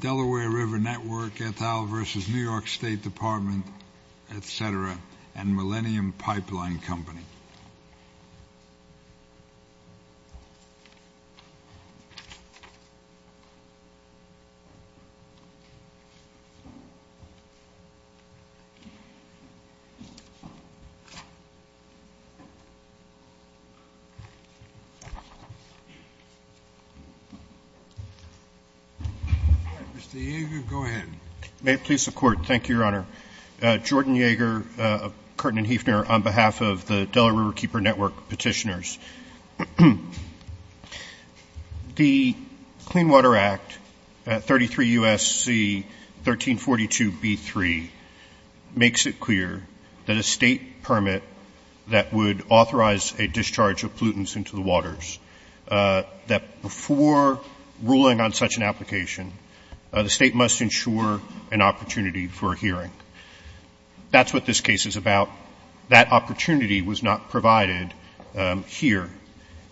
Delaware River Network, et al versus New York State Department, et cetera, and Millennium Pipeline Company. Mr. Yeager, go ahead. May it please the Court. Thank you, Your Honor. Jordan Yeager, Curtin & Hefner, on behalf of the Delaware Riverkeeper Network petitioners. The Clean Water Act, 33 U.S.C. 1342b3, makes it clear that a state permit that would authorize a discharge of pollutants into the waters, that before ruling on such an application, the state must ensure an opportunity for a hearing. That's what this case is about. That opportunity was not provided here.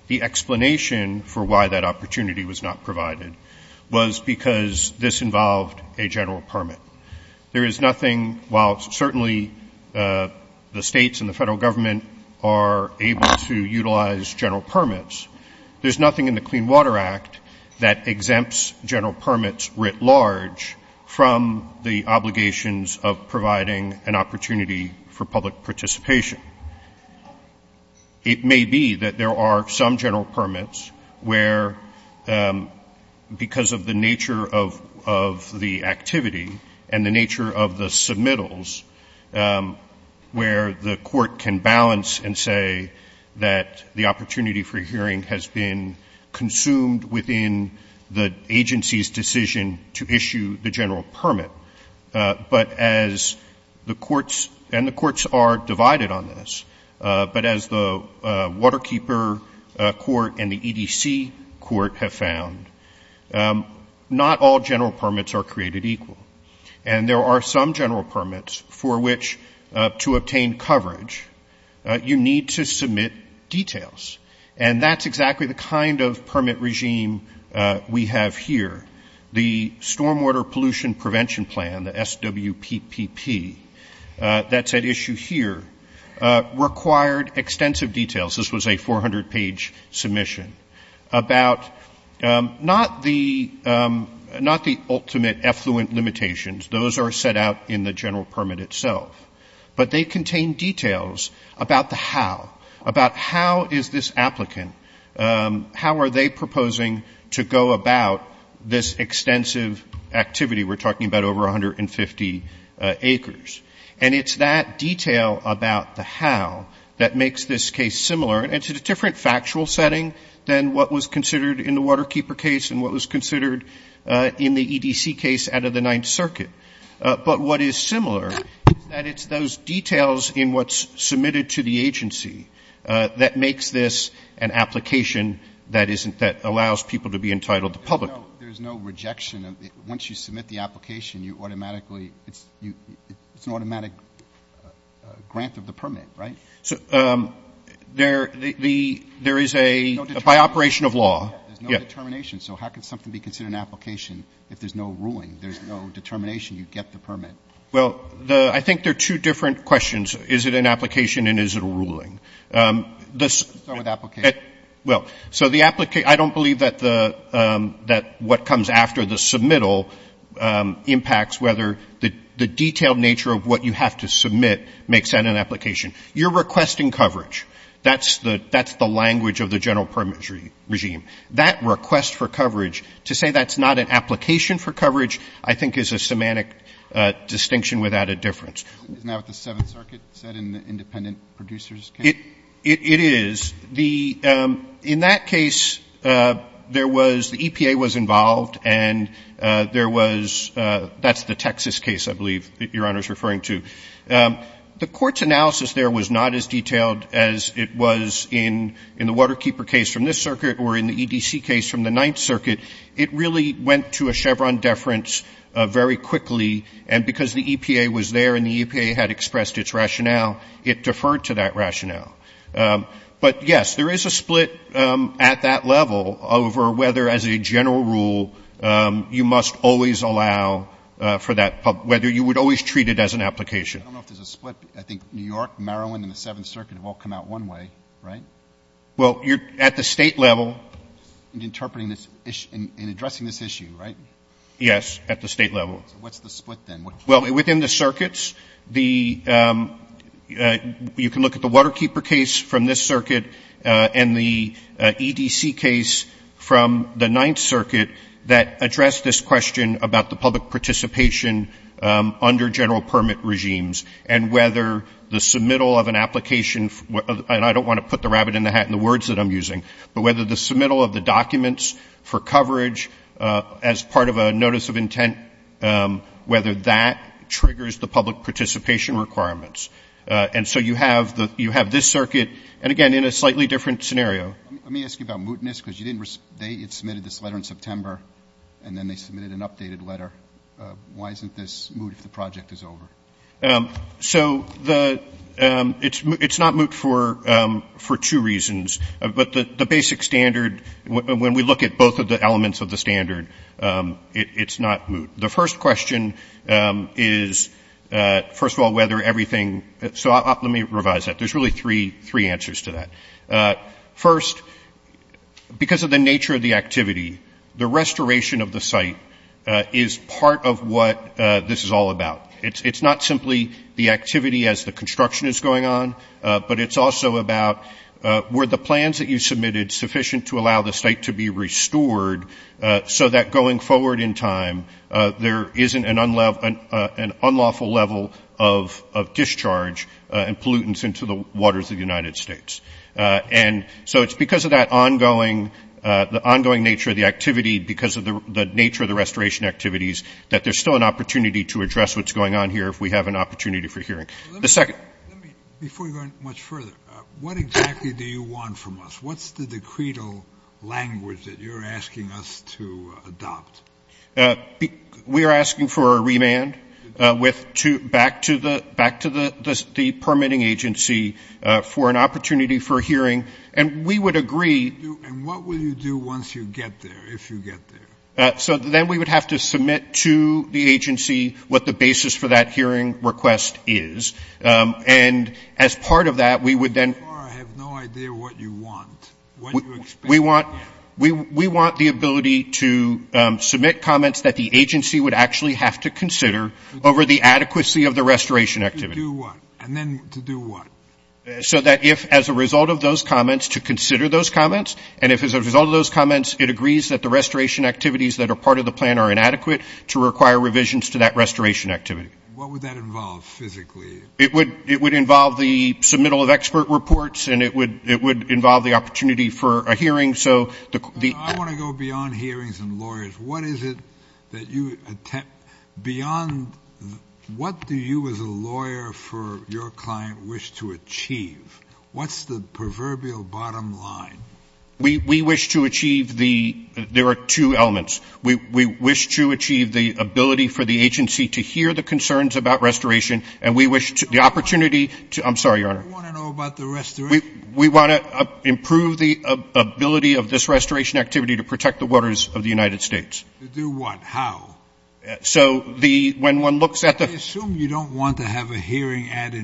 The explanation for why that opportunity was not provided was because this involved a general permit. There is nothing, while certainly the states and the federal government are able to utilize general permits, there's nothing in the Clean Water Act that exempts general permits writ large from the obligations of providing an opportunity for public participation. It may be that there are some general permits where, because of the nature of the activity and the nature of the submittals, where the Court can balance and say that the opportunity for hearing has been consumed within the agency's decision to issue the general permit. But as the courts, and the courts are divided on this, but as the Waterkeeper Court and the EDC Court have found, not all general permits are created equal. And there are some general permits for which, to obtain coverage, you need to submit details. And that's exactly the kind of permit regime we have here. The Stormwater Pollution Prevention Plan, the SWPPP, that's at issue here, required extensive details. This was a 400-page submission about not the ultimate effluent limitations. Those are set out in the general permit itself. But they contain details about the how, about how is this applicant, how are they proposing to go about this extensive activity we're talking about, over 150 acres. And it's that detail about the how that makes this case similar. And it's a different factual setting than what was considered in the Waterkeeper case and what was considered in the EDC case out of the Ninth Circuit. But what is similar is that it's those details in what's submitted to the agency that makes this an application that isn't, that allows people to be entitled to public. Roberts. There's no rejection. Once you submit the application, you automatically, it's an automatic grant of the permit, right? There is a, by operation of law. There's no determination. So how can something be considered an application if there's no ruling? There's no determination. You get the permit. Well, the, I think there are two different questions. Is it an application and is it a ruling? Let's start with application. Well, so the, I don't believe that the, that what comes after the submittal impacts whether the detailed nature of what you have to submit makes that an application. You're requesting coverage. That's the, that's the language of the general permit regime. That request for coverage, to say that's not an application for coverage, I think is a semantic distinction without a difference. Isn't that what the Seventh Circuit said in the independent producer's case? It, it is. The, in that case, there was, the EPA was involved and there was, that's the Texas case, I believe, that Your Honor is referring to. The Court's analysis there was not as detailed as it was in, in the Waterkeeper case from this circuit or in the EDC case from the Ninth Circuit. It really went to a Chevron deference very quickly. And because the EPA was there and the EPA had expressed its rationale, it deferred to that rationale. But, yes, there is a split at that level over whether, as a general rule, you must always allow for that, whether you would always treat it as an application. I don't know if there's a split. I think New York, Maryland, and the Seventh Circuit have all come out one way, right? Well, you're at the State level. In interpreting this issue, in addressing this issue, right? Yes, at the State level. So what's the split then? Well, within the circuits, the, you can look at the Waterkeeper case from this circuit and the EDC case from the Ninth Circuit that addressed this question about the public participation under general permit regimes and whether the submittal of an application and I don't want to put the rabbit in the hat in the words that I'm using, but whether the submittal of the documents for coverage as part of a notice of intent, whether that triggers the public participation requirements. And so you have the, you have this circuit and, again, in a slightly different scenario. Let me ask you about mootness because you didn't, they had submitted this letter in September and then they submitted an updated letter. Why isn't this moot if the project is over? So the, it's not moot for two reasons, but the basic standard, when we look at both of the elements of the standard, it's not moot. The first question is, first of all, whether everything, so let me revise that. There's really three answers to that. First, because of the nature of the activity, the restoration of the site is part of what this is all about. It's not simply the activity as the construction is going on, but it's also about were the plans that you submitted sufficient to allow the site to be restored so that going forward in time there isn't an unlawful level of discharge and pollutants into the waters of the United States. And so it's because of that ongoing, the ongoing nature of the activity because of the nature of the restoration activities that there's still an opportunity to address what's going on here if we have an opportunity for hearing. The second. Let me, before you go much further, what exactly do you want from us? What's the decretal language that you're asking us to adopt? We are asking for a remand back to the permitting agency for an opportunity for hearing. And we would agree. And what will you do once you get there, if you get there? So then we would have to submit to the agency what the basis for that hearing request is. And as part of that we would then I have no idea what you want. What do you expect? We want the ability to submit comments that the agency would actually have to consider over the adequacy of the restoration activity. To do what? And then to do what? So that if as a result of those comments, to consider those comments, and if as a result of those comments it agrees that the restoration activities that are part of the plan are inadequate to require revisions to that restoration activity. What would that involve physically? It would involve the submittal of expert reports and it would involve the opportunity for a hearing. So the I want to go beyond hearings and lawyers. What is it that you attempt beyond what do you as a lawyer for your client wish to achieve? What's the proverbial bottom line? We wish to achieve the there are two elements. We wish to achieve the ability for the agency to hear the concerns about restoration and we wish the opportunity to I'm sorry, Your Honor. What do you want to know about the restoration? We want to improve the ability of this restoration activity to protect the waters of the United States. To do what? How? So the when one looks at the I assume you don't want to have a hearing ad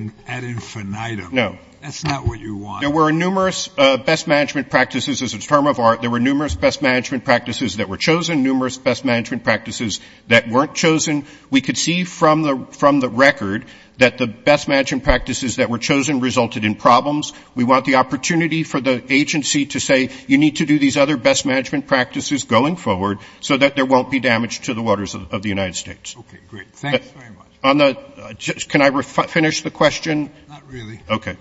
infinitum. No. That's not what you want. There were numerous best management practices as a term of art. There were numerous best management practices that were chosen, numerous best management practices that weren't chosen. We could see from the record that the best management practices that were chosen resulted in problems. We want the opportunity for the agency to say you need to do these other best management practices going forward so that there won't be damage to the waters of the United States. Okay, great. Thanks very much. Can I finish the question? Not really. Okay.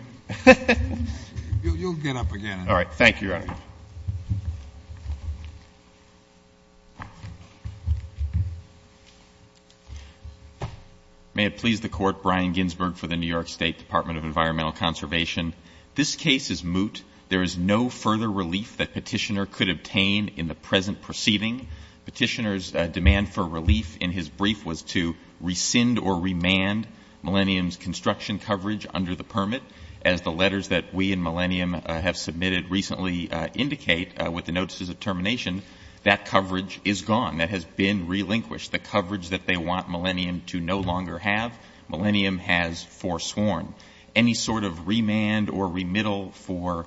You'll get up again. All right. Thank you, Your Honor. May it please the Court, Brian Ginsberg for the New York State Department of Environmental Conservation. This case is moot. There is no further relief that Petitioner could obtain in the present proceeding. Petitioner's demand for relief in his brief was to rescind or remand Millennium's construction coverage under the permit. As the letters that we and Millennium have submitted recently indicate with the notices of termination, that coverage is gone. That has been relinquished. The coverage that they want Millennium to no longer have, Millennium has forsworn. Any sort of remand or remittal for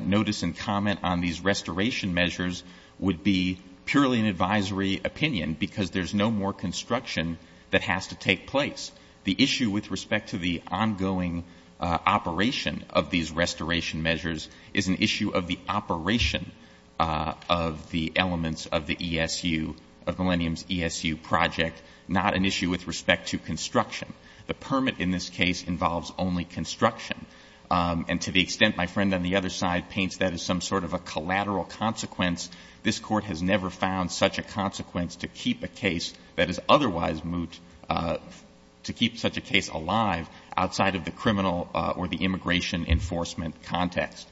notice and comment on these restoration measures would be purely an advisory opinion because there's no more construction that has to take place. The issue with respect to the ongoing operation of these restoration measures is an issue of the operation of the elements of the ESU, of Millennium's ESU project, not an issue with respect to construction. The permit in this case involves only construction. And to the extent my friend on the other side paints that as some sort of a collateral consequence, this Court has never found such a consequence to keep a case that is otherwise moot, to keep such a case alive outside of the criminal or the immigration enforcement context.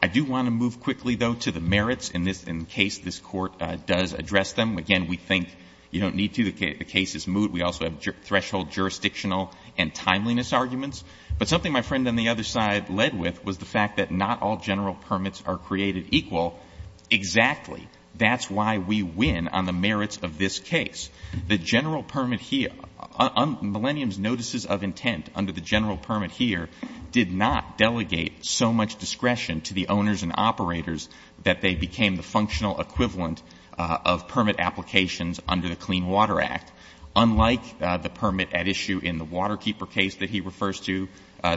I do want to move quickly, though, to the merits in this case. This Court does address them. Again, we think you don't need to. The case is moot. We also have threshold jurisdictional and timeliness arguments. But something my friend on the other side led with was the fact that not all general permits are created equal. Exactly. That's why we win on the merits of this case. The general permit here, Millennium's notices of intent under the general permit here, did not delegate so much discretion to the owners and operators that they became the functional equivalent of permit applications under the Clean Water Act. Unlike the permit at issue in the Waterkeeper case that he refers to,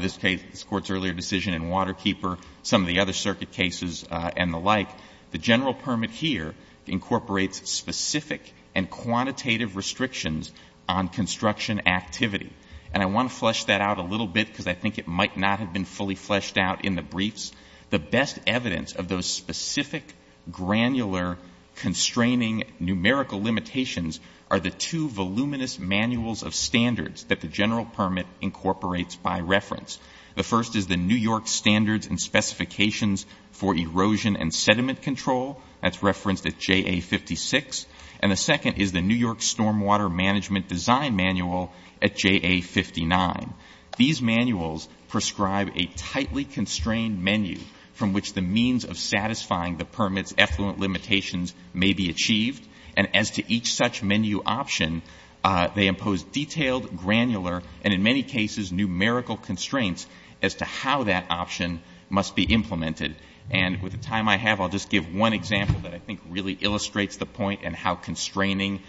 this Court's earlier decision in Waterkeeper, some of the other circuit cases and the like, the general permit here incorporates specific and quantitative restrictions on construction activity. And I want to flesh that out a little bit because I think it might not have been fully fleshed out in the briefs. The best evidence of those specific, granular, constraining numerical limitations are the two voluminous manuals of standards that the general permit incorporates by reference. The first is the New York Standards and Specifications for Erosion and Sediment Control. That's referenced at JA56. And the second is the New York Stormwater Management Design Manual at JA59. These manuals prescribe a tightly constrained menu from which the means of satisfying the permit's effluent limitations may be achieved. And as to each such menu option, they impose detailed, granular, and in many cases, numerical constraints as to how that option must be implemented. And with the time I have, I'll just give one example that I think really illustrates the point and how constraining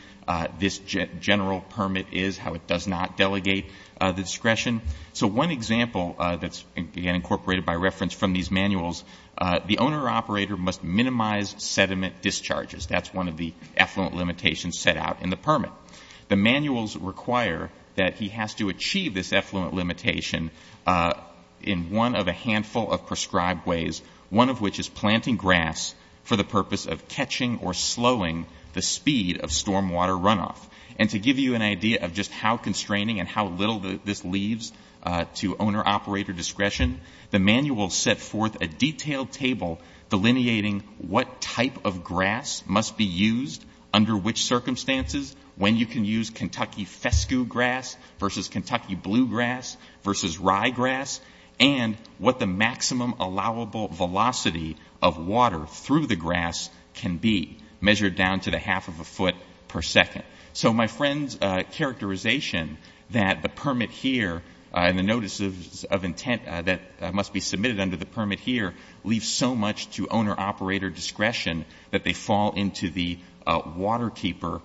this general permit is, how it does not delegate the discretion. So one example that's, again, incorporated by reference from these manuals, the owner or operator must minimize sediment discharges. That's one of the effluent limitations set out in the permit. The manuals require that he has to achieve this effluent limitation in one of a handful of prescribed ways, one of which is planting grass for the purpose of catching or slowing the speed of stormwater runoff. And to give you an idea of just how constraining and how little this leaves to owner-operator discretion, the manuals set forth a detailed table delineating what type of grass must be used under which circumstances, when you can use Kentucky fescue grass versus Kentucky bluegrass versus ryegrass, and what the maximum allowable velocity of water through the grass can be measured down to the half of a foot per second. So my friend's characterization that the permit here and the notices of intent that must be submitted under the permit here leave so much to owner-operator discretion that they fall into the waterkeeper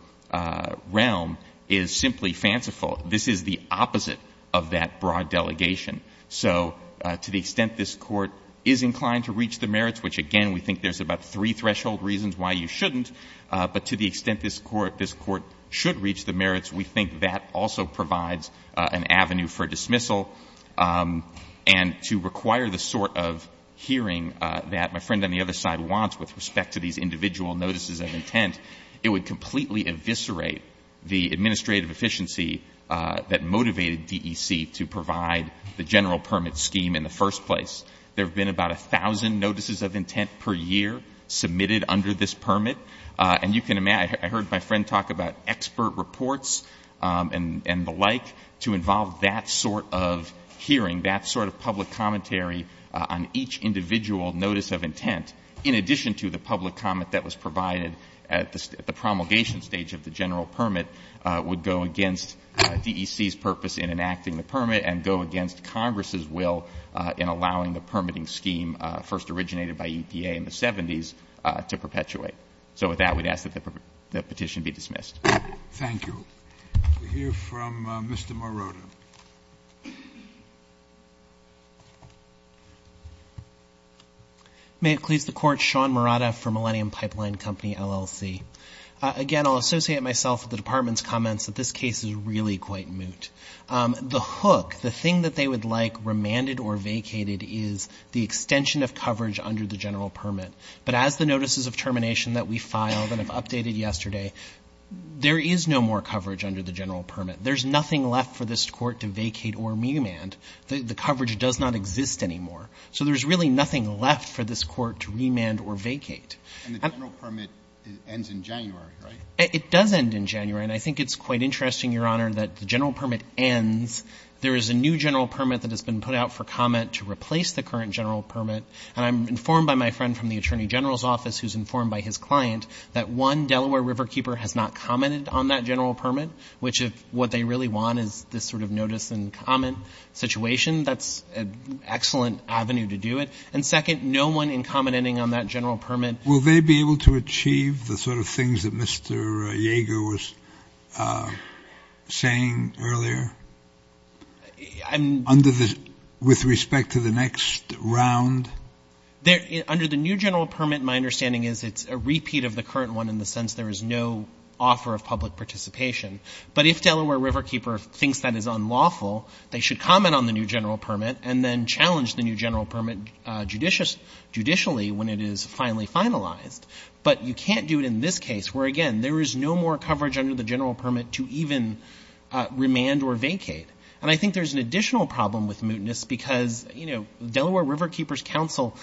realm is simply fanciful. This is the opposite of that broad delegation. So to the extent this Court is inclined to reach the merits, which, again, we think there's about three threshold reasons why you shouldn't, but to the extent this Court should reach the merits, we think that also provides an avenue for dismissal. And to require the sort of hearing that my friend on the other side wants with respect to these individual notices of intent, it would completely eviscerate the administrative efficiency that motivated DEC to provide the general permit scheme in the first place. There have been about 1,000 notices of intent per year submitted under this permit, and you can imagine I heard my friend talk about expert reports and the like to involve that sort of hearing, that sort of public commentary on each individual notice of intent, in addition to the public comment that was provided at the promulgation stage of the general permit would go against DEC's purpose in enacting the permit and go against Congress's will in allowing the permitting scheme first originated by EPA in the 70s to perpetuate. So with that, we'd ask that the petition be dismissed. Thank you. We'll hear from Mr. Marotta. May it please the Court. Sean Marotta for Millennium Pipeline Company, LLC. Again, I'll associate myself with the Department's comments that this case is really quite moot. The hook, the thing that they would like remanded or vacated is the extension of coverage under the general permit. But as the notices of termination that we filed and have updated yesterday, there is no more coverage under the general permit. There's nothing left for this Court to vacate or remand. The coverage does not exist anymore. So there's really nothing left for this Court to remand or vacate. And the general permit ends in January, right? It does end in January. And I think it's quite interesting, Your Honor, that the general permit ends. There is a new general permit that has been put out for comment to replace the current general permit. And I'm informed by my friend from the Attorney General's office who's informed by his client that, one, Delaware Riverkeeper has not commented on that general permit, which if what they really want is this sort of notice and comment situation, that's an excellent avenue to do it. And, second, no one in commenting on that general permit. Will they be able to achieve the sort of things that Mr. Yeager was saying earlier? Under the – with respect to the next round? Under the new general permit, my understanding is it's a repeat of the current one in the sense there is no offer of public participation. But if Delaware Riverkeeper thinks that is unlawful, they should comment on the new general permit and then challenge the new general permit judicially when it is finally finalized. But you can't do it in this case where, again, there is no more coverage under the general permit to even remand or vacate. And I think there's an additional problem with mootness because, you know, Delaware Riverkeeper's counsel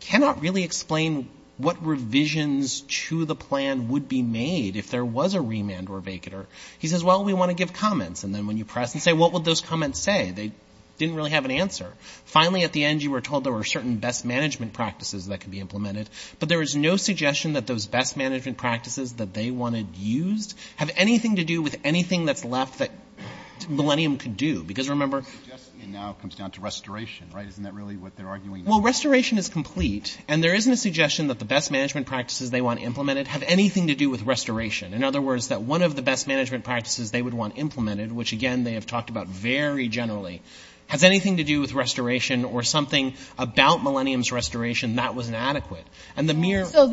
cannot really explain what revisions to the plan would be made if there was a remand or vacater. He says, well, we want to give comments. And then when you press and say, what would those comments say, they didn't really have an answer. Finally, at the end, you were told there were certain best management practices that could be implemented. But there is no suggestion that those best management practices that they wanted used have anything to do with anything that's left that Millennium could do. Because remember – Well, restoration is complete. And there isn't a suggestion that the best management practices they want implemented have anything to do with restoration. In other words, that one of the best management practices they would want implemented, which, again, they have talked about very generally, has anything to do with restoration or something about Millennium's restoration that was inadequate. And the mere – So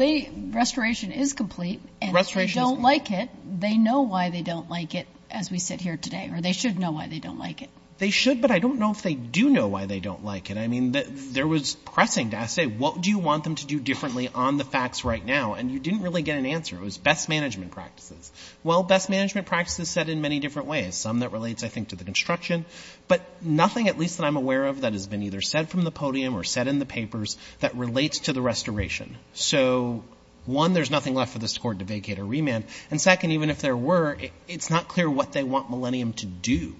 restoration is complete. And if they don't like it, they know why they don't like it as we sit here today. Or they should know why they don't like it. They should, but I don't know if they do know why they don't like it. I mean, there was pressing to ask, say, what do you want them to do differently on the facts right now? And you didn't really get an answer. It was best management practices. Well, best management practices said in many different ways. Some that relates, I think, to the construction. But nothing, at least that I'm aware of, that has been either said from the podium or said in the papers that relates to the restoration. So, one, there's nothing left for this court to vacate or remand. And second, even if there were, it's not clear what they want Millennium to do.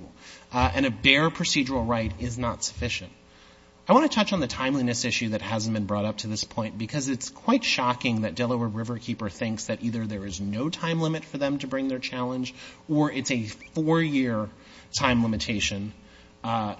And a bare procedural right is not sufficient. I want to touch on the timeliness issue that hasn't been brought up to this point because it's quite shocking that Delaware Riverkeeper thinks that either there is no time limit for them to bring their challenge or it's a four-year time limitation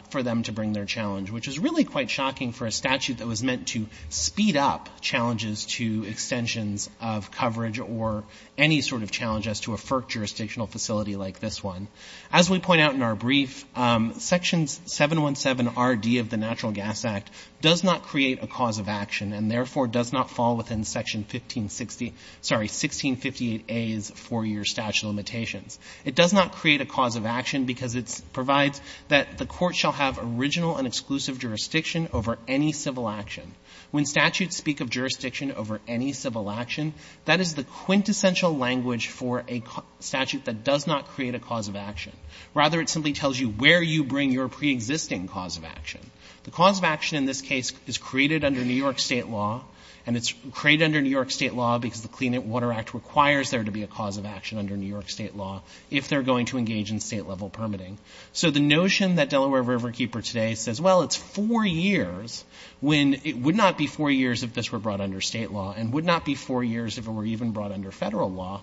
for them to bring their challenge, which is really quite shocking for a statute that was meant to speed up challenges to extensions of coverage or any sort of challenge as to a FERC jurisdictional facility like this one. As we point out in our brief, Section 717RD of the Natural Gas Act does not create a cause of action and therefore does not fall within Section 1658A's four-year statute of limitations. It does not create a cause of action because it provides that the court shall have original and exclusive jurisdiction over any civil action. When statutes speak of jurisdiction over any civil action, that is the quintessential language for a statute that does not create a cause of action. Rather, it simply tells you where you bring your pre-existing cause of action. The cause of action in this case is created under New York state law and it's created under New York state law because the Clean Water Act requires there to be a cause of action under New York state law if they're going to engage in state-level permitting. So the notion that Delaware Riverkeeper today says, well, it's four years, when it would not be four years if this were brought under state law and would not be four years if it were even brought under Federal law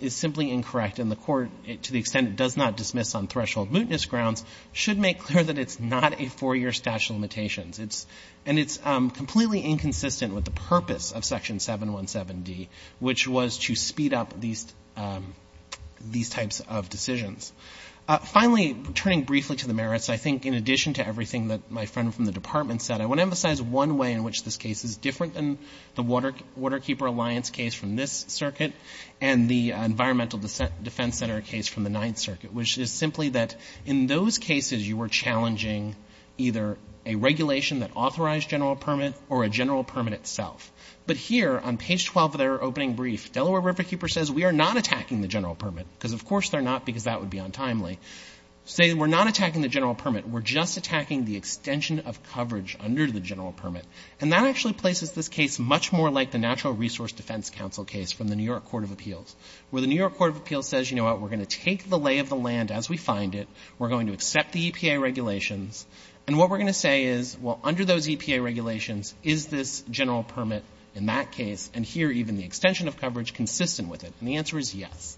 is simply incorrect and the court, to the extent it does not dismiss on threshold mootness grounds, should make clear that it's not a four-year statute of limitations. And it's completely inconsistent with the purpose of Section 717D, which was to speed up these types of decisions. Finally, turning briefly to the merits, I think in addition to everything that my friend from the Department said, I want to emphasize one way in which this case is different than the Waterkeeper Alliance case from this circuit and the Environmental Defense Center case from the Ninth Circuit, which is simply that in those cases you were challenging either a regulation that authorized general permit or a general permit itself. But here, on page 12 of their opening brief, Delaware Riverkeeper says, we are not attacking the general permit, because of course they're not, because that would be untimely. Say we're not attacking the general permit. We're just attacking the extension of coverage under the general permit. And that actually places this case much more like the Natural Resource Defense Council case from the New York Court of Appeals, where the New York Court of Appeals says, you know what, we're going to take the lay of the land as we find it. We're going to accept the EPA regulations. And what we're going to say is, well, under those EPA regulations, is this general permit in that case and here even the extension of coverage consistent with it? And the answer is yes.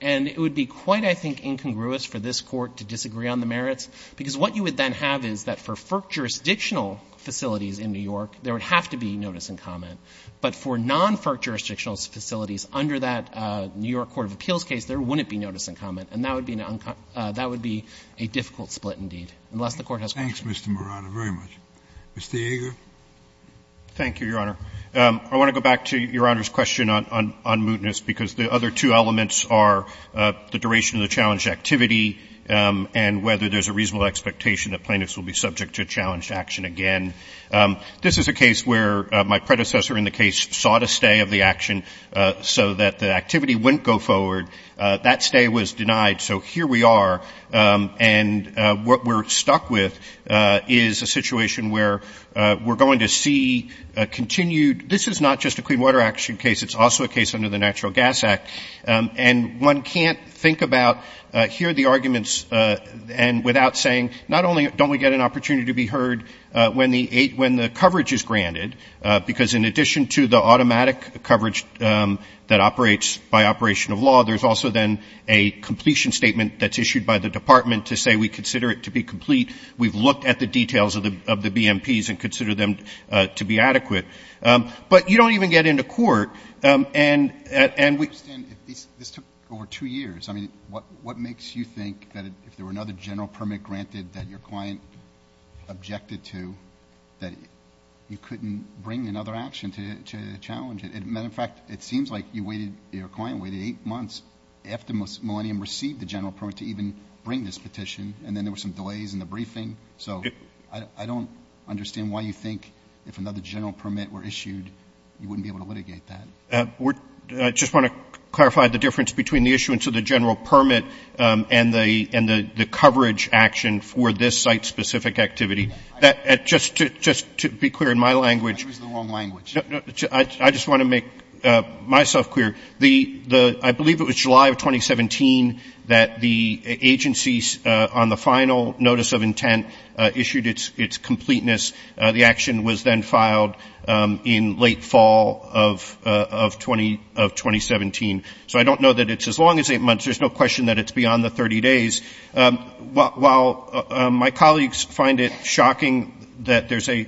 And it would be quite, I think, incongruous for this Court to disagree on the merits, because what you would then have is that for FERC jurisdictional facilities in New York, there would have to be notice and comment. But for non-FERC jurisdictional facilities under that New York Court of Appeals case, there wouldn't be notice and comment. And that would be a difficult split indeed, unless the Court has questions. Scalia. Thanks, Mr. Marano, very much. Mr. Yeager. Yeager. Thank you, Your Honor. I want to go back to Your Honor's question on mootness, because the other two elements are the duration of the challenged activity and whether there's a reasonable expectation that plaintiffs will be subject to challenged action again. This is a case where my predecessor in the case sought a stay of the action so that the activity wouldn't go forward. That stay was denied. So here we are. And what we're stuck with is a situation where we're going to see a continued – this is not just a Clean Water Action case. It's also a case under the Natural Gas Act. And one can't think about – hear the arguments and without saying, not only don't we get an opportunity to be heard when the coverage is granted, because in addition to the automatic coverage that operates by operation of law, there's also then a completion statement that's issued by the department to say we consider it to be complete. We've looked at the details of the BMPs and consider them to be adequate. But you don't even get into court. And we – I understand. This took over two years. I mean, what makes you think that if there were another general permit granted that your client objected to, that you couldn't bring another action to challenge it? Matter of fact, it seems like you waited – your client waited eight months after Millennium received the general permit to even bring this petition. And then there were some delays in the briefing. So I don't understand why you think if another general permit were issued, you wouldn't be able to litigate that. I just want to clarify the difference between the issuance of the general permit and the coverage action for this site-specific activity. Just to be clear, in my language – I used the wrong language. I just want to make myself clear. I believe it was July of 2017 that the agencies, on the final notice of intent, issued its completeness. The action was then filed in late fall of 2017. So I don't know that it's as long as eight months. There's no question that it's beyond the 30 days. While my colleagues find it shocking that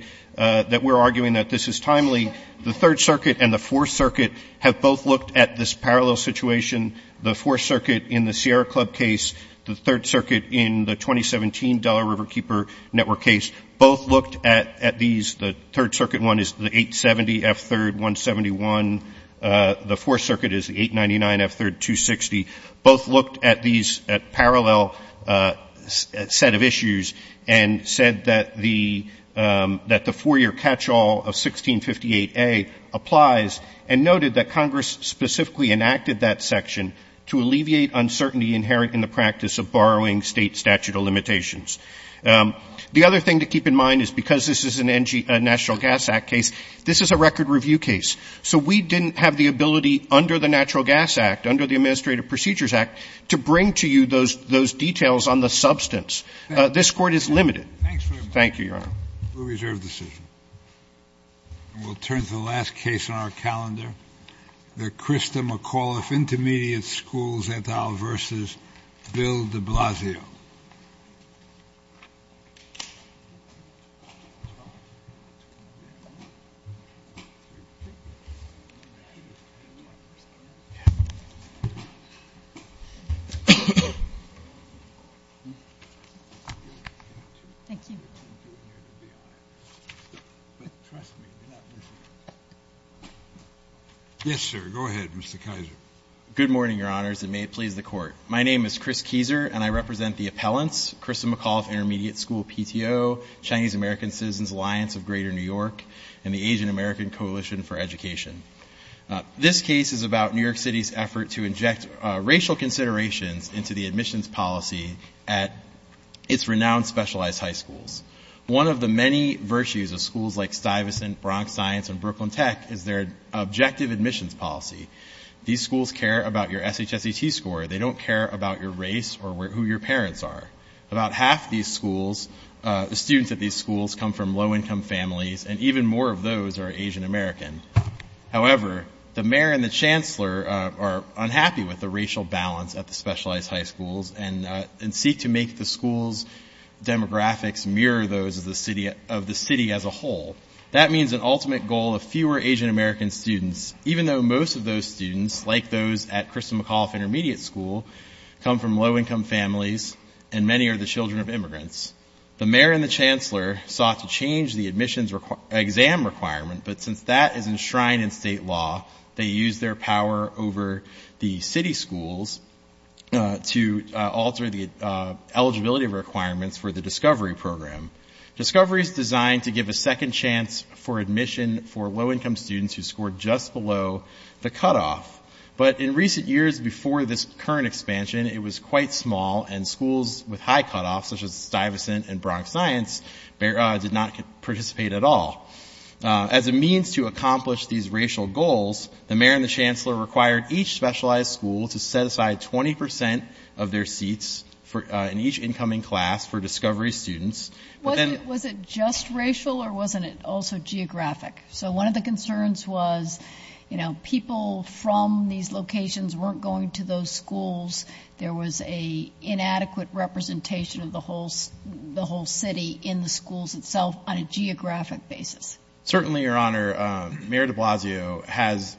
we're arguing that this is timely, the Third Circuit and the Fourth Circuit have both looked at this parallel situation. The Fourth Circuit in the Sierra Club case, the Third Circuit in the 2017 Delaware Riverkeeper Network case both looked at these. The Third Circuit one is the 870F3-171. The Fourth Circuit is the 899F3-260. Both looked at these at parallel set of issues and said that the four-year catch-all of 1658A applies and noted that Congress specifically enacted that section to alleviate uncertainty inherent in the practice of borrowing State statute of limitations. The other thing to keep in mind is because this is a National Gas Act case, this is a record review case. So we didn't have the ability under the Natural Gas Act, under the Administrative Procedures Act, to bring to you those details on the substance. This Court is limited. Thank you, Your Honor. We'll reserve the decision. We'll turn to the last case on our calendar, the Krista McAuliffe Intermediate School Zantal v. Bill de Blasio. Yes, sir. Go ahead, Mr. Keiser. Good morning, Your Honors, and may it please the Court. My name is Chris Keiser, and I represent the appellants, Krista McAuliffe Intermediate School PTO, Chinese American Citizens Alliance of Greater New York, and the Asian American Coalition for Education. This case is about New York City's effort to inject racial considerations into the admissions policy at its renowned specialized high schools. One of the many virtues of schools like Stuyvesant, Bronx Science, and Brooklyn Tech is their objective admissions policy. These schools care about your SHSET score. They don't care about your race or who your parents are. About half the students at these schools come from low-income families, and even more of those are Asian American. However, the mayor and the chancellor are unhappy with the racial balance at the specialized high schools and seek to make the school's demographics mirror those of the city as a whole. That means an ultimate goal of fewer Asian American students, even though most of those students, like those at Krista McAuliffe Intermediate School, come from low-income families, and many are the children of immigrants. The mayor and the chancellor sought to change the admissions exam requirement, but since that is enshrined in state law, they used their power over the city schools to alter the eligibility requirements for the Discovery Program. Discovery is designed to give a second chance for admission for low-income students who scored just below the cutoff, but in recent years before this current expansion, it was quite small and schools with high cutoffs, such as Stuyvesant and Bronx Science, did not participate at all. As a means to accomplish these racial goals, the mayor and the chancellor required each specialized school to set aside 20% of their seats in each incoming class for Discovery students Was it just racial or wasn't it also geographic? So one of the concerns was, you know, people from these locations weren't going to those schools. There was an inadequate representation of the whole city in the schools itself on a geographic basis. Certainly, Your Honor, Mayor de Blasio has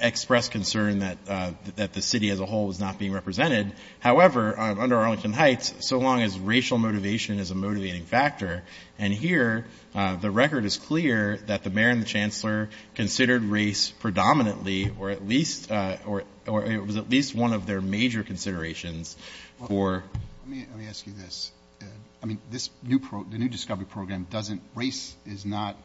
expressed concern that the city as a whole was not being represented. However, under Arlington Heights, so long as racial motivation is a motivating factor, and here the record is clear that the mayor and the chancellor considered race predominantly or it was at least one of their major considerations for Let me ask you this. The new Discovery Program, race is not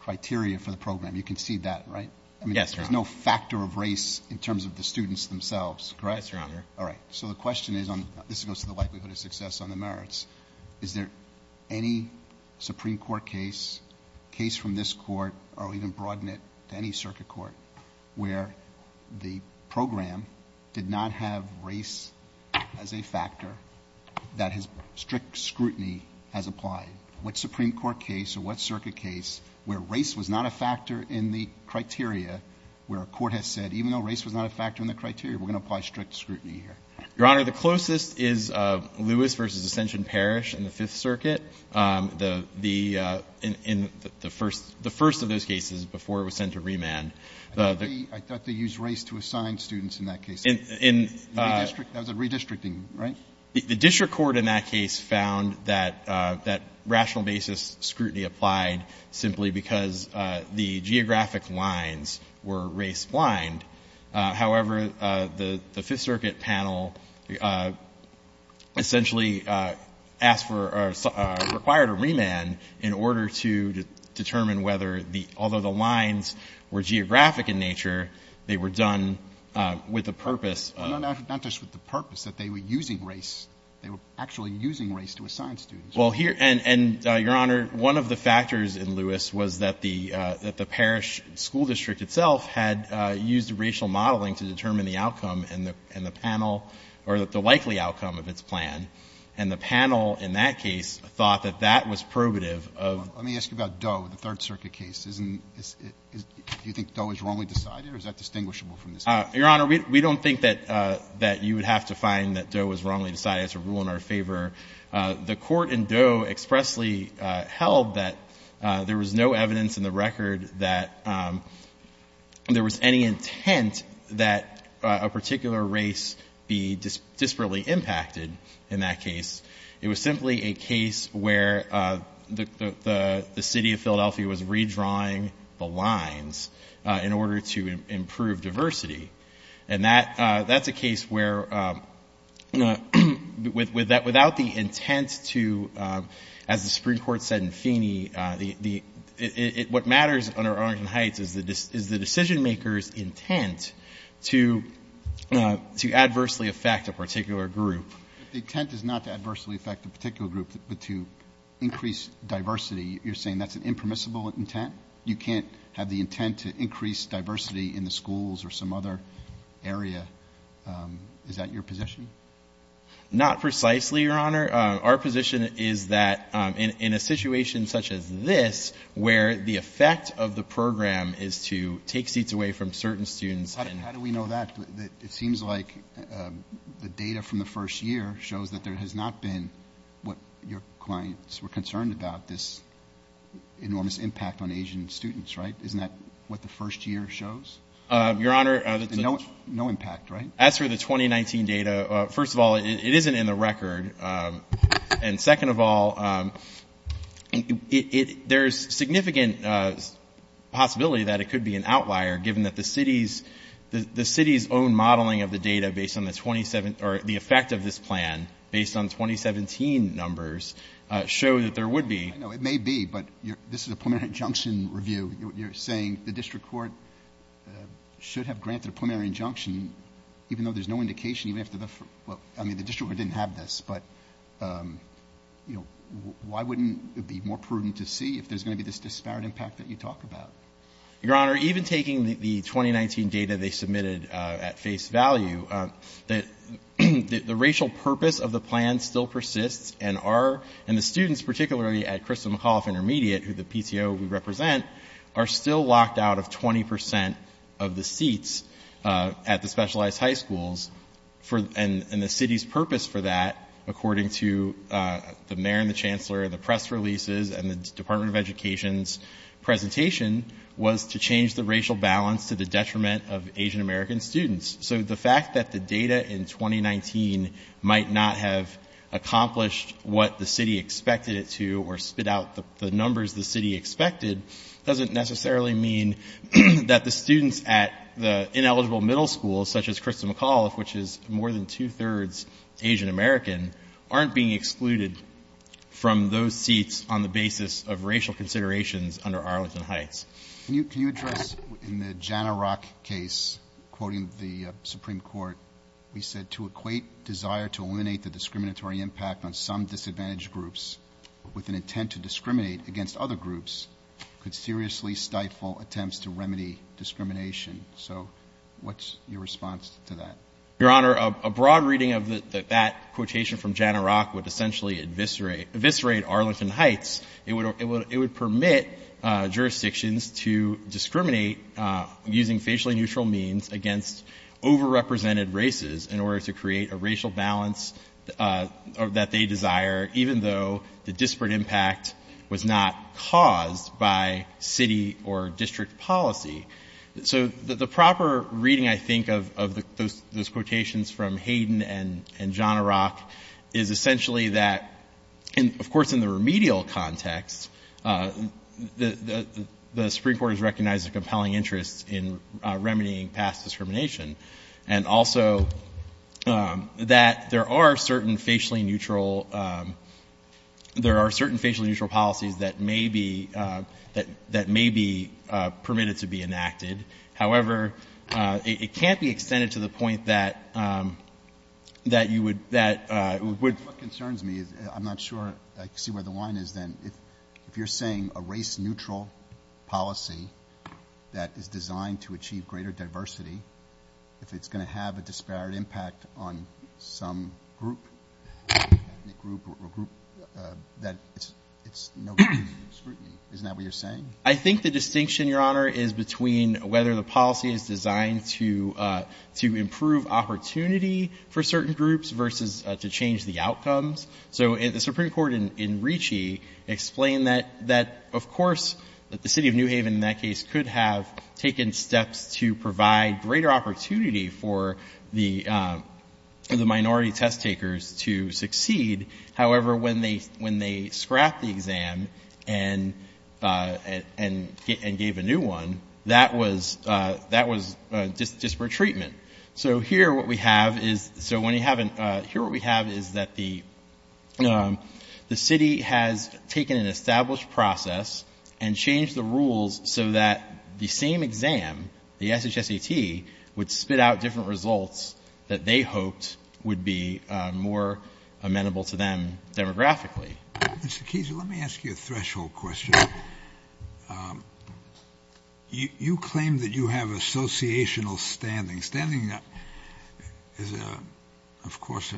criteria for the program. You can see that, right? Yes, Your Honor. There's no factor of race in terms of the students themselves, correct? Yes, Your Honor. All right. So the question is, this goes to the likelihood of success on the merits. Is there any Supreme Court case, case from this court, or even broaden it to any circuit court, where the program did not have race as a factor that strict scrutiny has applied? What Supreme Court case or what circuit case where race was not a factor in the criteria, where a court has said, even though race was not a factor in the criteria, we're going to apply strict scrutiny here? Your Honor, the closest is Lewis v. Ascension Parish in the Fifth Circuit. The first of those cases before it was sent to remand. I thought they used race to assign students in that case. That was a redistricting, right? The district court in that case found that rational basis scrutiny applied simply because the geographic lines were race-blind. However, the Fifth Circuit panel essentially asked for or required a remand in order to determine whether the — although the lines were geographic in nature, they were done with the purpose of — Not just with the purpose, that they were using race. They were actually using race to assign students. Well, here — and, Your Honor, one of the factors in Lewis was that the — that the district court used racial modeling to determine the outcome and the panel — or the likely outcome of its plan. And the panel in that case thought that that was probative of — Let me ask you about Doe, the Third Circuit case. Isn't — do you think Doe was wrongly decided, or is that distinguishable from this case? Your Honor, we don't think that you would have to find that Doe was wrongly decided. It's a rule in our favor. The court in Doe expressly held that there was no evidence in the record that there was any intent that a particular race be disparately impacted in that case. It was simply a case where the City of Philadelphia was redrawing the lines in order to improve diversity. And that's a case where without the intent to — as the Supreme Court said in Feeney, what matters under Arlington Heights is the decision-maker's intent to adversely affect a particular group. But the intent is not to adversely affect a particular group, but to increase diversity. You're saying that's an impermissible intent? You can't have the intent to increase diversity in the schools or some other area. Is that your position? Not precisely, Your Honor. Our position is that in a situation such as this, where the effect of the program is to take seats away from certain students and — How do we know that? It seems like the data from the first year shows that there has not been what your clients were concerned about, this enormous impact on Asian students, right? Isn't that what the first year shows? Your Honor — No impact, right? As for the 2019 data, first of all, it isn't in the record. And second of all, there is significant possibility that it could be an outlier, given that the city's own modeling of the data based on the effect of this plan, based on 2017 numbers, show that there would be — I know it may be, but this is a preliminary injunction review. You're saying the district court should have granted a preliminary injunction, even though there's no indication, even after the — well, I mean, the district court didn't have this, but, you know, why wouldn't it be more prudent to see if there's going to be this disparate impact that you talk about? Your Honor, even taking the 2019 data they submitted at face value, the racial purpose of the plan still persists, and our — the PTO we represent are still locked out of 20 percent of the seats at the specialized high schools. And the city's purpose for that, according to the mayor and the chancellor and the press releases and the Department of Education's presentation, was to change the racial balance to the detriment of Asian-American students. So the fact that the data in 2019 might not have accomplished what the city expected it to or spit out the numbers the city expected doesn't necessarily mean that the students at the ineligible middle schools, such as Krista McAuliffe, which is more than two-thirds Asian-American, aren't being excluded from those seats on the basis of racial considerations under Arlington Heights. Can you address — in the Jana Rock case, quoting the Supreme Court, we said, to equate desire to eliminate the discriminatory impact on some disadvantaged groups with an intent to discriminate against other groups could seriously stifle attempts to remedy discrimination. So what's your response to that? Your Honor, a broad reading of that quotation from Jana Rock would essentially eviscerate Arlington Heights. It would — it would permit jurisdictions to discriminate using facially neutral means against overrepresented races in order to create a racial balance that they desire, even though the disparate impact was not caused by city or district policy. So the proper reading, I think, of those quotations from Hayden and Jana Rock is essentially that — and, of course, in the remedial context, the Supreme Court has recognized a compelling interest in remedying past discrimination and also that there are certain facially neutral — there are certain facially neutral policies that may be — that may be permitted to be enacted. However, it can't be extended to the point that — that you would — that — What concerns me is I'm not sure I see where the line is then. If you're saying a race-neutral policy that is designed to achieve greater diversity, if it's going to have a disparate impact on some group, ethnic group or group, that it's no good scrutiny. Isn't that what you're saying? I think the distinction, Your Honor, is between whether the policy is designed to improve opportunity for certain groups versus to change the outcomes. So the Supreme Court in Ricci explained that, of course, that the city of New Haven in that case could have taken steps to provide greater opportunity for the minority test takers to succeed. However, when they scrapped the exam and gave a new one, that was disparate treatment. So here what we have is — so when you have an — here what we have is that the city has taken an established process and changed the rules so that the same exam, the SHSAT, would spit out different results that they hoped would be more amenable to them demographically. Mr. Keese, let me ask you a threshold question. You claim that you have associational standing. Standing is, of course,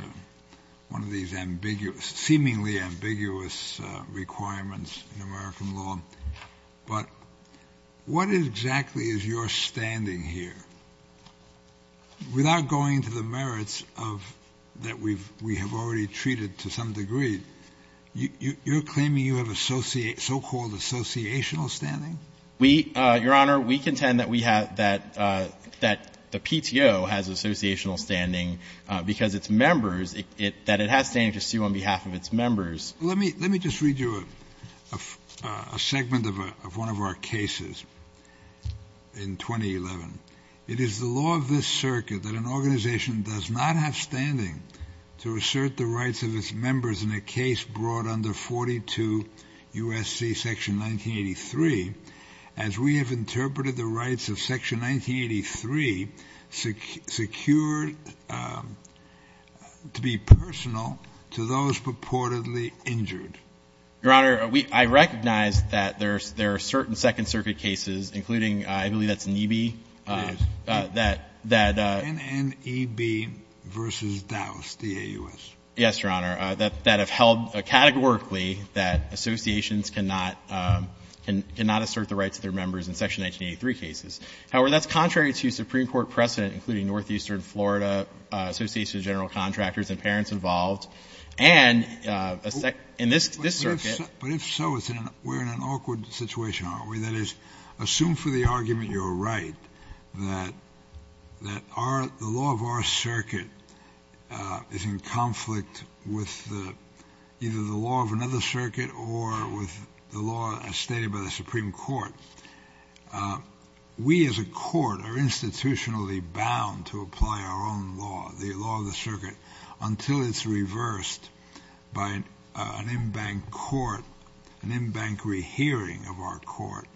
one of these ambiguous — seemingly ambiguous requirements in American law. But what exactly is your standing here? Without going to the merits of — that we have already treated to some degree, you're claiming you have so-called associational standing? We — Your Honor, we contend that we have — that the PTO has associational standing because its members — that it has standing to sue on behalf of its members. Let me just read you a segment of one of our cases in 2011. It is the law of this circuit that an organization does not have standing to assert the rights of its members in a case brought under 42 U.S.C. Section 1983 as we have interpreted the rights of Section 1983 secured to be personal to those purportedly injured. Your Honor, we — I recognize that there are certain Second Circuit cases, including — I believe that's NEB. It is. That — NNEB v. Dowse, D-A-U-S. Yes, Your Honor. That have held categorically that associations cannot — cannot assert the rights of their members in Section 1983 cases. However, that's contrary to Supreme Court precedent, including Northeastern Florida Association of General Contractors and parents involved. And in this circuit — But if so, we're in an awkward situation, aren't we? That is, assume for the argument you're right that our — the law of our circuit is in conflict with either the law of another circuit or with the law as stated by the Supreme Court. We as a court are institutionally bound to apply our own law, the law of the circuit, until it's reversed by an in-bank court, an in-bank rehearing of our court,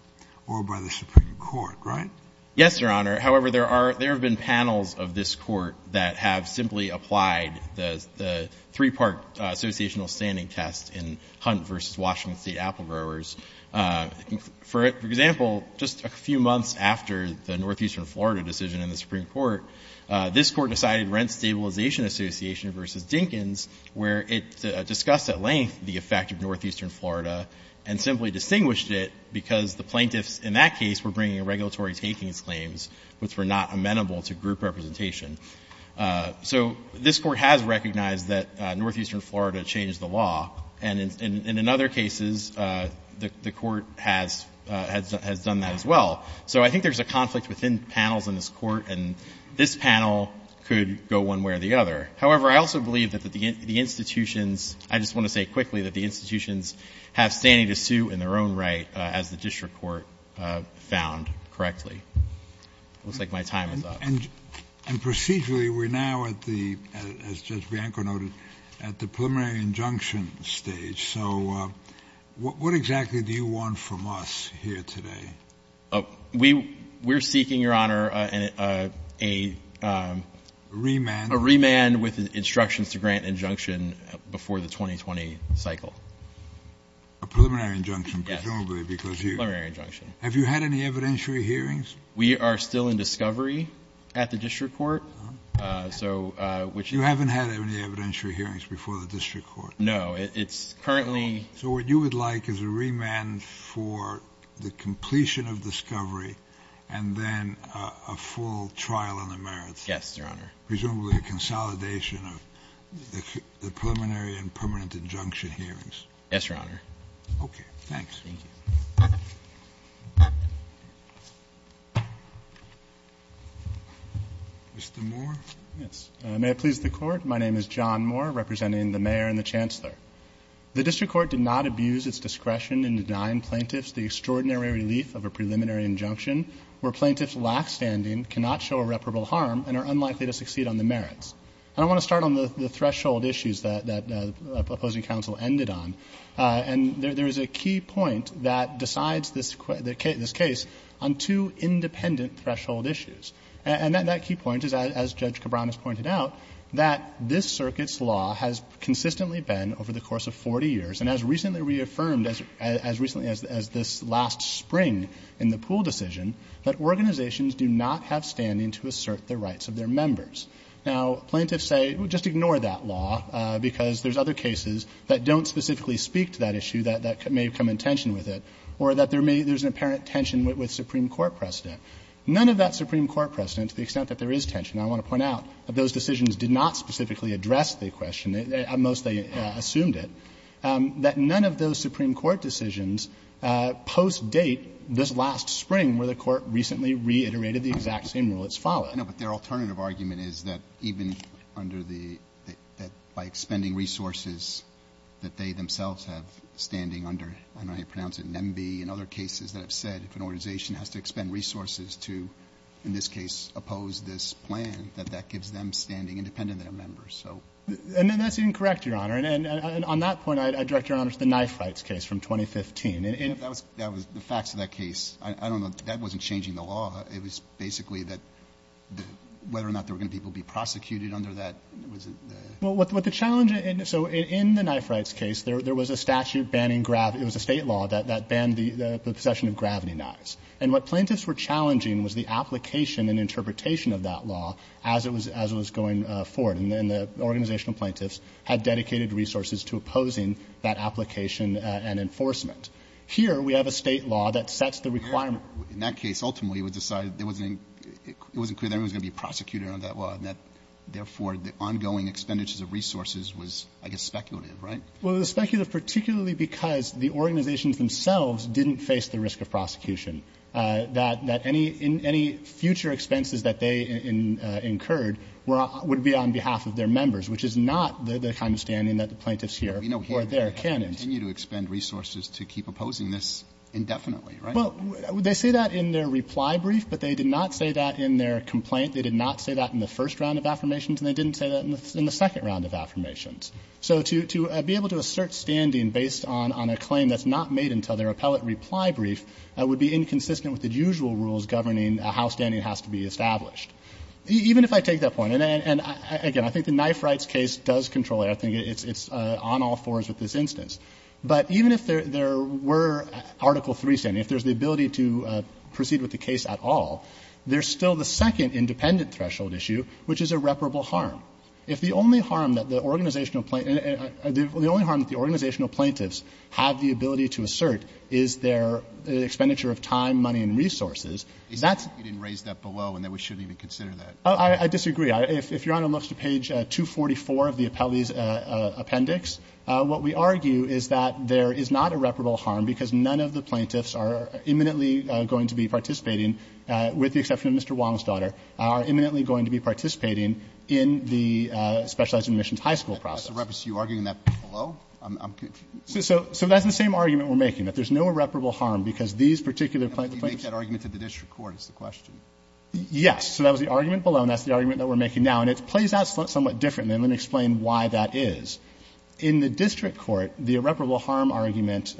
or by the Supreme Court, right? Yes, Your Honor. However, there are — there have been panels of this court that have simply applied the three-part associational standing test in Hunt v. Washington State Apple Growers. For example, just a few months after the Northeastern Florida decision in the Supreme Court, this Court decided Rent Stabilization Association v. Dinkins, where it discussed at length the effect of Northeastern Florida and simply distinguished it because the plaintiffs in that case were bringing regulatory takings claims which were not amenable to group representation. So this Court has recognized that Northeastern Florida changed the law, and in other cases, the Court has done that as well. So I think there's a conflict within panels in this Court, and this panel could go one way or the other. However, I also believe that the institutions — I just want to say quickly that the institutions have standing to suit in their own right, as the district court found correctly. It looks like my time is up. And procedurally, we're now at the — as Judge Bianco noted, at the preliminary injunction stage. So what exactly do you want from us here today? We're seeking, Your Honor, a — A remand? A remand with instructions to grant injunction before the 2020 cycle. A preliminary injunction, presumably, because you — Yes, a preliminary injunction. Have you had any evidentiary hearings? We are still in discovery at the district court. Oh. So — You haven't had any evidentiary hearings before the district court? No. It's currently — So what you would like is a remand for the completion of discovery and then a full trial on the merits? Yes, Your Honor. Presumably a consolidation of the preliminary and permanent injunction hearings? Yes, Your Honor. Okay. Thanks. Thank you. Mr. Moore? Yes. May it please the Court, my name is John Moore, representing the mayor and the chancellor. The district court did not abuse its discretion in denying plaintiffs the extraordinary relief of a preliminary injunction where plaintiffs' lackstanding cannot show irreparable harm and are unlikely to succeed on the merits. And I want to start on the threshold issues that the opposing counsel ended on. And there is a key point that decides this case on two independent threshold issues. And that key point is, as Judge Cabran has pointed out, that this circuit's law has consistently been, over the course of 40 years, and as recently reaffirmed as this last spring in the Poole decision, that organizations do not have standing to assert the rights of their members. Now, plaintiffs say, well, just ignore that law, because there's other cases that don't specifically speak to that issue that may come in tension with it, or that there's an apparent tension with Supreme Court precedent. None of that Supreme Court precedent, to the extent that there is tension, I want to point out, that those decisions did not specifically address the question, at most they assumed it, that none of those Supreme Court decisions post-date this last spring where the Court recently reiterated the exact same rule that's followed. Roberts. I know, but their alternative argument is that even under the, that by expending resources that they themselves have standing under, I don't know how you pronounce it, NEMB, and other cases that have said if an organization has to expend resources to, in this case, oppose this plan, that that gives them standing independent of their members, so. And that's incorrect, Your Honor. And on that point, I direct Your Honor to the knife rights case from 2015. That was the facts of that case. I don't know. That wasn't changing the law. It was basically that whether or not there were going to be people prosecuted under that was the. Well, what the challenge in, so in the knife rights case, there was a statute banning, it was a State law that banned the possession of gravity knives. And what plaintiffs were challenging was the application and interpretation of that law as it was going forward. And the organizational plaintiffs had dedicated resources to opposing that application and enforcement. Here, we have a State law that sets the requirement. In that case, ultimately, it was decided there wasn't, it wasn't clear that anyone was going to be prosecuted under that law, and that, therefore, the ongoing expenditures of resources was, I guess, speculative, right? Well, it was speculative particularly because the organizations themselves didn't face the risk of prosecution, that any future expenses that they incurred would be on behalf of their members, which is not the kind of standing that the plaintiffs here or there can. But we know here they have to continue to expend resources to keep opposing this indefinitely, right? Well, they say that in their reply brief, but they did not say that in their complaint. They did not say that in the first round of affirmations, and they didn't say that in the second round of affirmations. So to be able to assert standing based on a claim that's not made until their appellate reply brief would be inconsistent with the usual rules governing how standing has to be established. Even if I take that point, and again, I think the Knife Rights case does control it. I think it's on all fours with this instance. But even if there were Article III standing, if there's the ability to proceed with the case at all, there's still the second independent threshold issue, which is irreparable harm. If the only harm that the organizational plaintiffs have the ability to assert is their expenditure of time, money, and resources, that's. Roberts. You didn't raise that below and that we shouldn't even consider that. I disagree. If Your Honor looks to page 244 of the appellee's appendix, what we argue is that there is not irreparable harm because none of the plaintiffs are imminently going to be participating, with the exception of Mr. Wong's daughter, are imminently going to be participating in the specialized admissions high school process. You're arguing that below? I'm confused. So that's the same argument we're making, that there's no irreparable harm because these particular plaintiffs. You make that argument to the district court is the question. Yes. So that was the argument below, and that's the argument that we're making now. And it plays out somewhat differently, and let me explain why that is. In the district court, the irreparable harm argument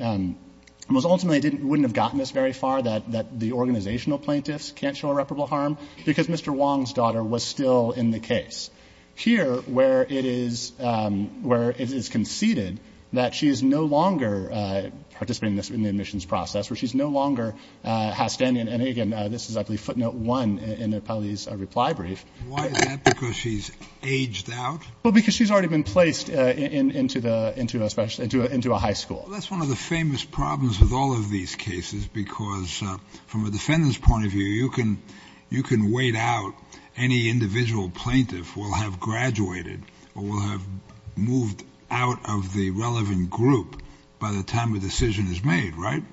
was ultimately wouldn't have gotten us very far, that the organizational plaintiffs can't show irreparable harm, because Mr. Wong's daughter was still in the case. Here, where it is conceded that she is no longer participating in the admissions process, where she's no longer outstanding, and again, this is I believe footnote one in the appellee's reply brief. Why is that? Because she's aged out? Well, because she's already been placed into a high school. That's one of the famous problems with all of these cases, because from a defendant's point of view, you can wait out any individual plaintiff who will have graduated or will have moved out of the relevant group by the time a decision is made, right?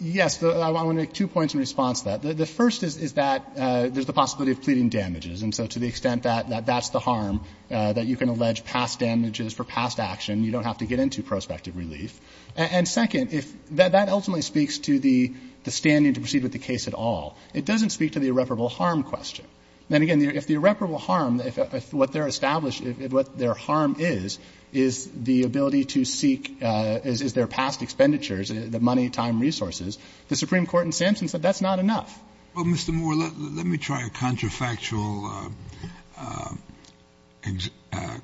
Yes. I want to make two points in response to that. The first is that there's the possibility of pleading damages, and so to the extent that that's the harm, that you can allege past damages for past action. You don't have to get into prospective relief. And second, that ultimately speaks to the standing to proceed with the case at all. It doesn't speak to the irreparable harm question. And again, if the irreparable harm, if what they're established, what their harm is, is the ability to seek, is their past expenditures, the money, time, resources, the Supreme Court in Sampson said that's not enough. Well, Mr. Moore, let me try a contrafactual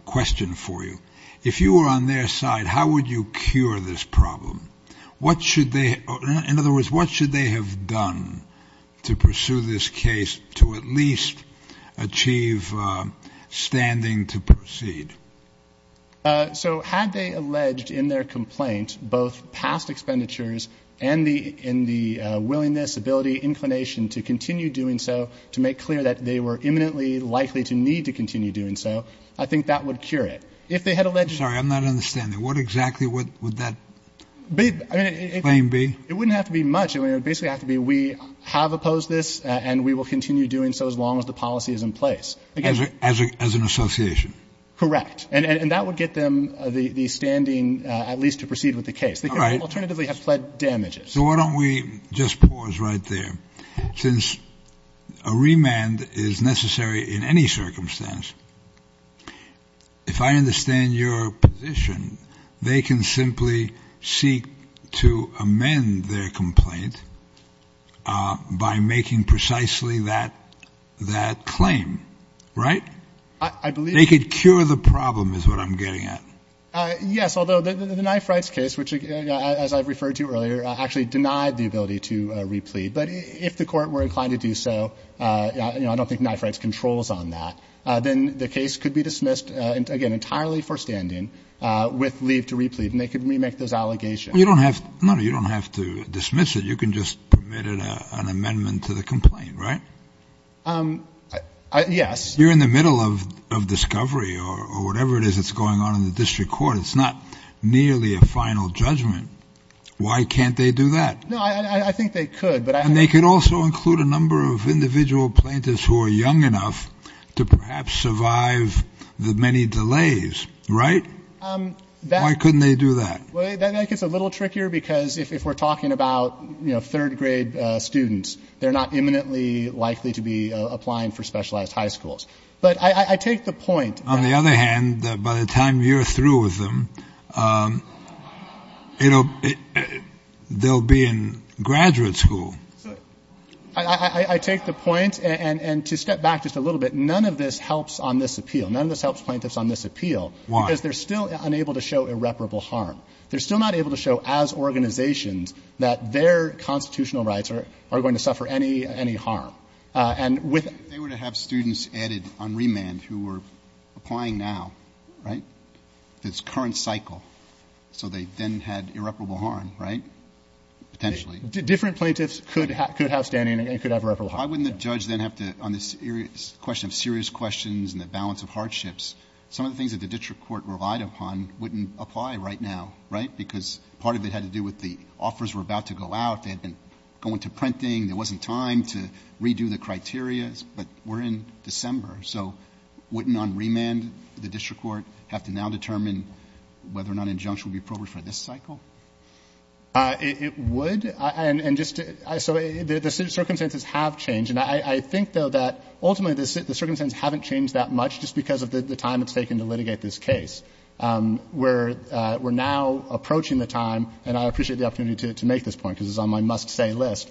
question for you. If you were on their side, how would you cure this problem? What should they, in other words, what should they have done to pursue this case to at least achieve standing to proceed? So had they alleged in their complaint both past expenditures and the willingness, ability, inclination to continue doing so, to make clear that they were imminently likely to need to continue doing so, I think that would cure it. If they had alleged... I'm sorry. I'm not understanding. What exactly would that claim be? It wouldn't have to be much. It would basically have to be we have opposed this and we will continue doing so as long as the policy is in place. As an association? Correct. And that would get them the standing at least to proceed with the case. They could alternatively have pled damages. So why don't we just pause right there. Since a remand is necessary in any circumstance, if I understand your position, they can simply seek to amend their complaint by making precisely that claim, right? I believe... They could cure the problem is what I'm getting at. Yes, although the knife rights case, which, as I referred to earlier, actually denied the ability to replead. But if the court were inclined to do so, I don't think knife rights controls on that, then the case could be dismissed, again, entirely for standing with leave to replead. And they could remake those allegations. You don't have to dismiss it. You can just permit an amendment to the complaint, right? Yes. You're in the middle of discovery or whatever it is that's going on in the district court. It's not nearly a final judgment. Why can't they do that? No, I think they could. And they could also include a number of individual plaintiffs who are young enough to perhaps survive the many delays, right? Why couldn't they do that? That gets a little trickier because if we're talking about, you know, third grade students, they're not imminently likely to be applying for specialized high schools. But I take the point that... They'll be in graduate school. I take the point, and to step back just a little bit, none of this helps on this appeal. None of this helps plaintiffs on this appeal. Why? Because they're still unable to show irreparable harm. They're still not able to show as organizations that their constitutional rights are going to suffer any harm. And with... If they were to have students added on remand who were applying now, right, this would be irreparable harm, right? Potentially. Different plaintiffs could have standing and could have irreparable harm. Why wouldn't the judge then have to, on the question of serious questions and the balance of hardships, some of the things that the district court relied upon wouldn't apply right now, right? Because part of it had to do with the offers were about to go out. They had been going to printing. There wasn't time to redo the criteria. But we're in December. So wouldn't on remand the district court have to now determine whether or not injunction would be appropriate for this cycle? It would. And just to... So the circumstances have changed. And I think, though, that ultimately the circumstances haven't changed that much just because of the time it's taken to litigate this case. We're now approaching the time, and I appreciate the opportunity to make this point because it's on my must-say list,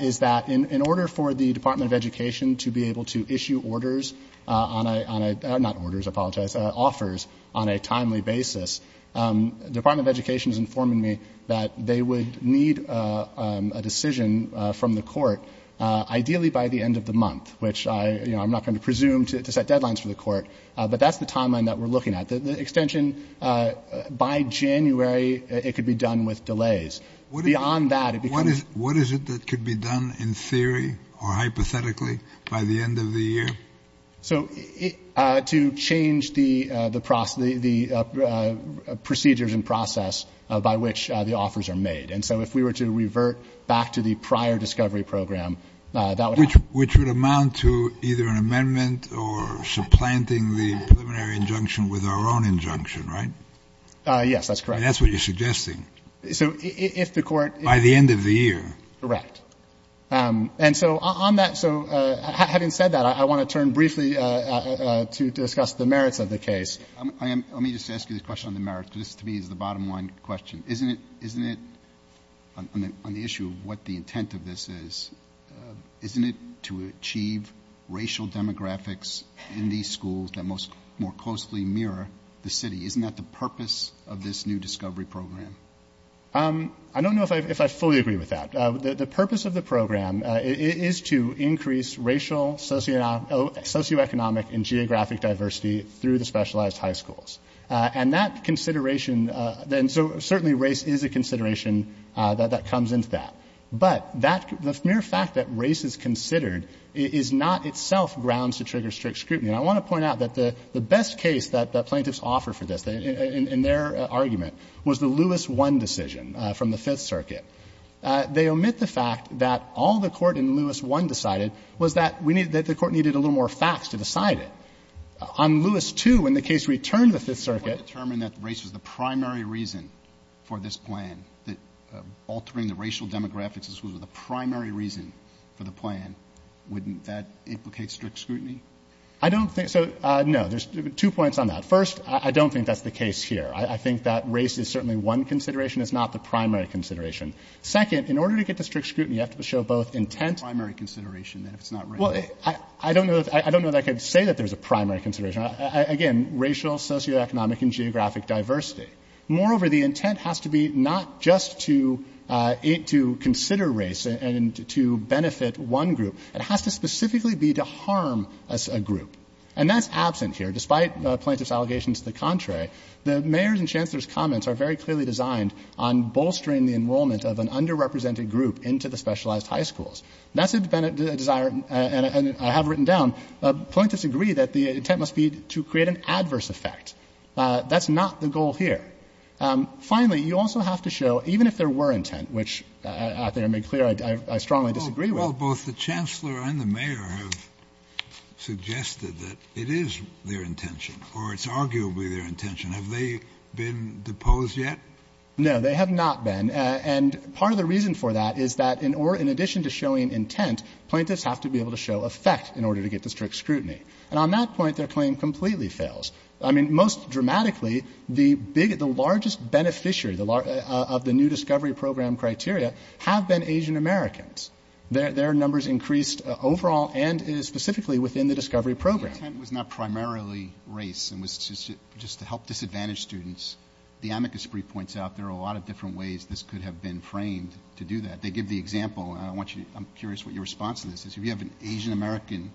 is that in order for the Department of Education to be able to issue orders on a... Not orders. I apologize. Offers on a timely basis. The Department of Education is informing me that they would need a decision from the court, ideally by the end of the month, which I'm not going to presume to set deadlines for the court. But that's the timeline that we're looking at. The extension by January, it could be done with delays. Beyond that, it becomes... What is it that could be done in theory or hypothetically by the end of the year? So to change the procedures and process by which the offers are made. And so if we were to revert back to the prior discovery program, that would happen. Which would amount to either an amendment or supplanting the preliminary injunction with our own injunction, right? Yes, that's correct. That's what you're suggesting. So if the court... By the end of the year. Correct. And so on that, so having said that, I want to turn briefly to discuss the merits of the case. Let me just ask you the question on the merits, because this, to me, is the bottom line question. Isn't it, on the issue of what the intent of this is, isn't it to achieve racial demographics in these schools that more closely mirror the city? Isn't that the purpose of this new discovery program? I don't know if I fully agree with that. The purpose of the program is to increase racial, socioeconomic, and geographic diversity through the specialized high schools. And that consideration, and so certainly race is a consideration that comes into that. But the mere fact that race is considered is not itself grounds to trigger strict scrutiny. And I want to point out that the best case that plaintiffs offer for this, in their argument, was the Lewis I decision from the Fifth Circuit. They omit the fact that all the Court in Lewis I decided was that we needed, that the Court needed a little more facts to decide it. On Lewis II, when the case returned to the Fifth Circuit. Alito, determined that race was the primary reason for this plan, that altering the racial demographics was the primary reason for the plan, wouldn't that implicate strict scrutiny? I don't think so. No. There's two points on that. First, I don't think that's the case here. I think that race is certainly one consideration. It's not the primary consideration. Second, in order to get to strict scrutiny, you have to show both intent. The primary consideration, then, if it's not racial. Well, I don't know that I could say that there's a primary consideration. Again, racial, socioeconomic, and geographic diversity. Moreover, the intent has to be not just to consider race and to benefit one group. It has to specifically be to harm a group. And that's absent here. Despite plaintiffs' allegations to the contrary, the mayor's and chancellor's very clearly designed on bolstering the enrollment of an underrepresented group into the specialized high schools. That's a desire, and I have written down, plaintiffs agree that the intent must be to create an adverse effect. That's not the goal here. Finally, you also have to show, even if there were intent, which I think I made clear I strongly disagree with. Well, both the chancellor and the mayor have suggested that it is their intention or it's arguably their intention. Have they been deposed yet? No. They have not been. And part of the reason for that is that in addition to showing intent, plaintiffs have to be able to show effect in order to get to strict scrutiny. And on that point, their claim completely fails. I mean, most dramatically, the largest beneficiary of the new discovery program criteria have been Asian Americans. Their numbers increased overall and specifically within the discovery program. The intent was not primarily race. It was just to help disadvantaged students. The amicus brief points out there are a lot of different ways this could have been framed to do that. They give the example, and I'm curious what your response to this is. If you have an Asian American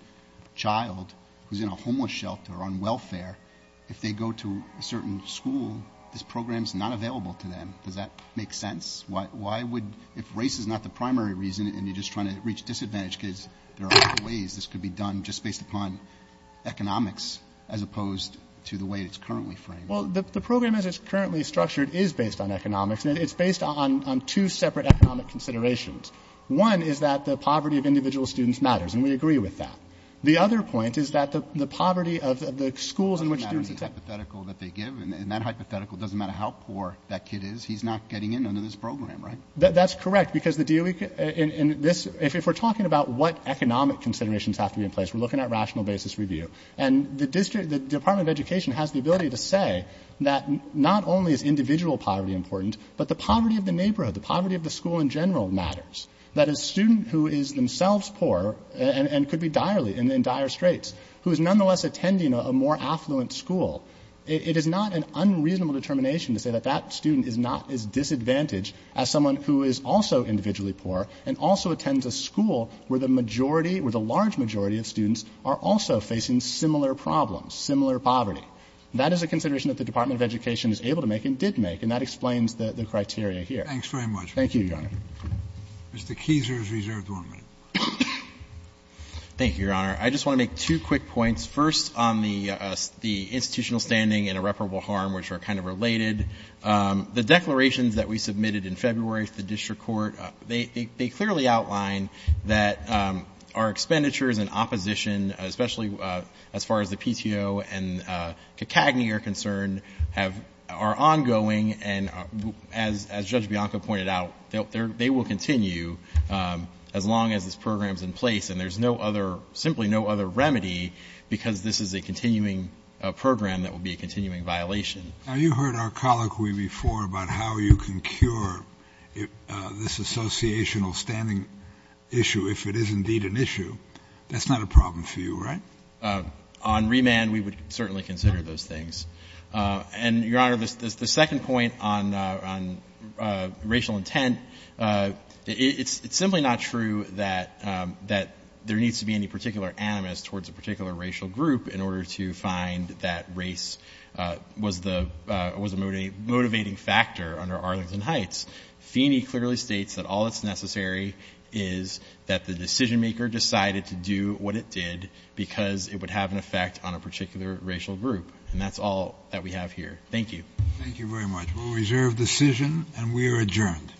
child who's in a homeless shelter on welfare, if they go to a certain school, this program is not available to them. Does that make sense? If race is not the primary reason and you're just trying to reach disadvantaged kids, there are other ways this could be done just based upon economics as opposed to the way it's currently framed. Well, the program as it's currently structured is based on economics, and it's based on two separate economic considerations. One is that the poverty of individual students matters, and we agree with that. The other point is that the poverty of the schools in which students accept them. It doesn't matter the hypothetical that they give. And that hypothetical doesn't matter how poor that kid is. He's not getting in under this program, right? That's correct. Because if we're talking about what economic considerations have to be in place, we're looking at rational basis review. And the Department of Education has the ability to say that not only is individual poverty important, but the poverty of the neighborhood, the poverty of the school in general matters. That a student who is themselves poor and could be in dire straits, who is nonetheless attending a more affluent school, it is not an unreasonable determination to say that that student is not as disadvantaged as someone who is also individually poor and also attends a school where the majority or the large majority of students are also facing similar problems, similar poverty. That is a consideration that the Department of Education is able to make and did make, and that explains the criteria here. Thank you, Your Honor. Mr. Keiser is reserved one minute. Thank you, Your Honor. I just want to make two quick points. First, on the institutional standing and irreparable harm, which are kind of related. The declarations that we submitted in February to the district court, they clearly outline that our expenditures and opposition, especially as far as the PTO and CACAGNY are concerned, are ongoing. And as Judge Bianco pointed out, they will continue as long as this program is in place. And there's no other, simply no other remedy, because this is a continuing program that will be a continuing violation. Now, you heard our colloquy before about how you can cure this associational standing issue if it is indeed an issue. That's not a problem for you, right? On remand, we would certainly consider those things. And, Your Honor, the second point on racial intent, it's simply not true that there needs to be any particular animus towards a particular racial group in order to find that race was a motivating factor under Arlington Heights. Feeney clearly states that all that's necessary is that the decision-maker decided to do what it did because it would have an effect on a particular racial group. And that's all that we have here. Thank you. Thank you very much. We'll reserve decision, and we are adjourned. Thank you.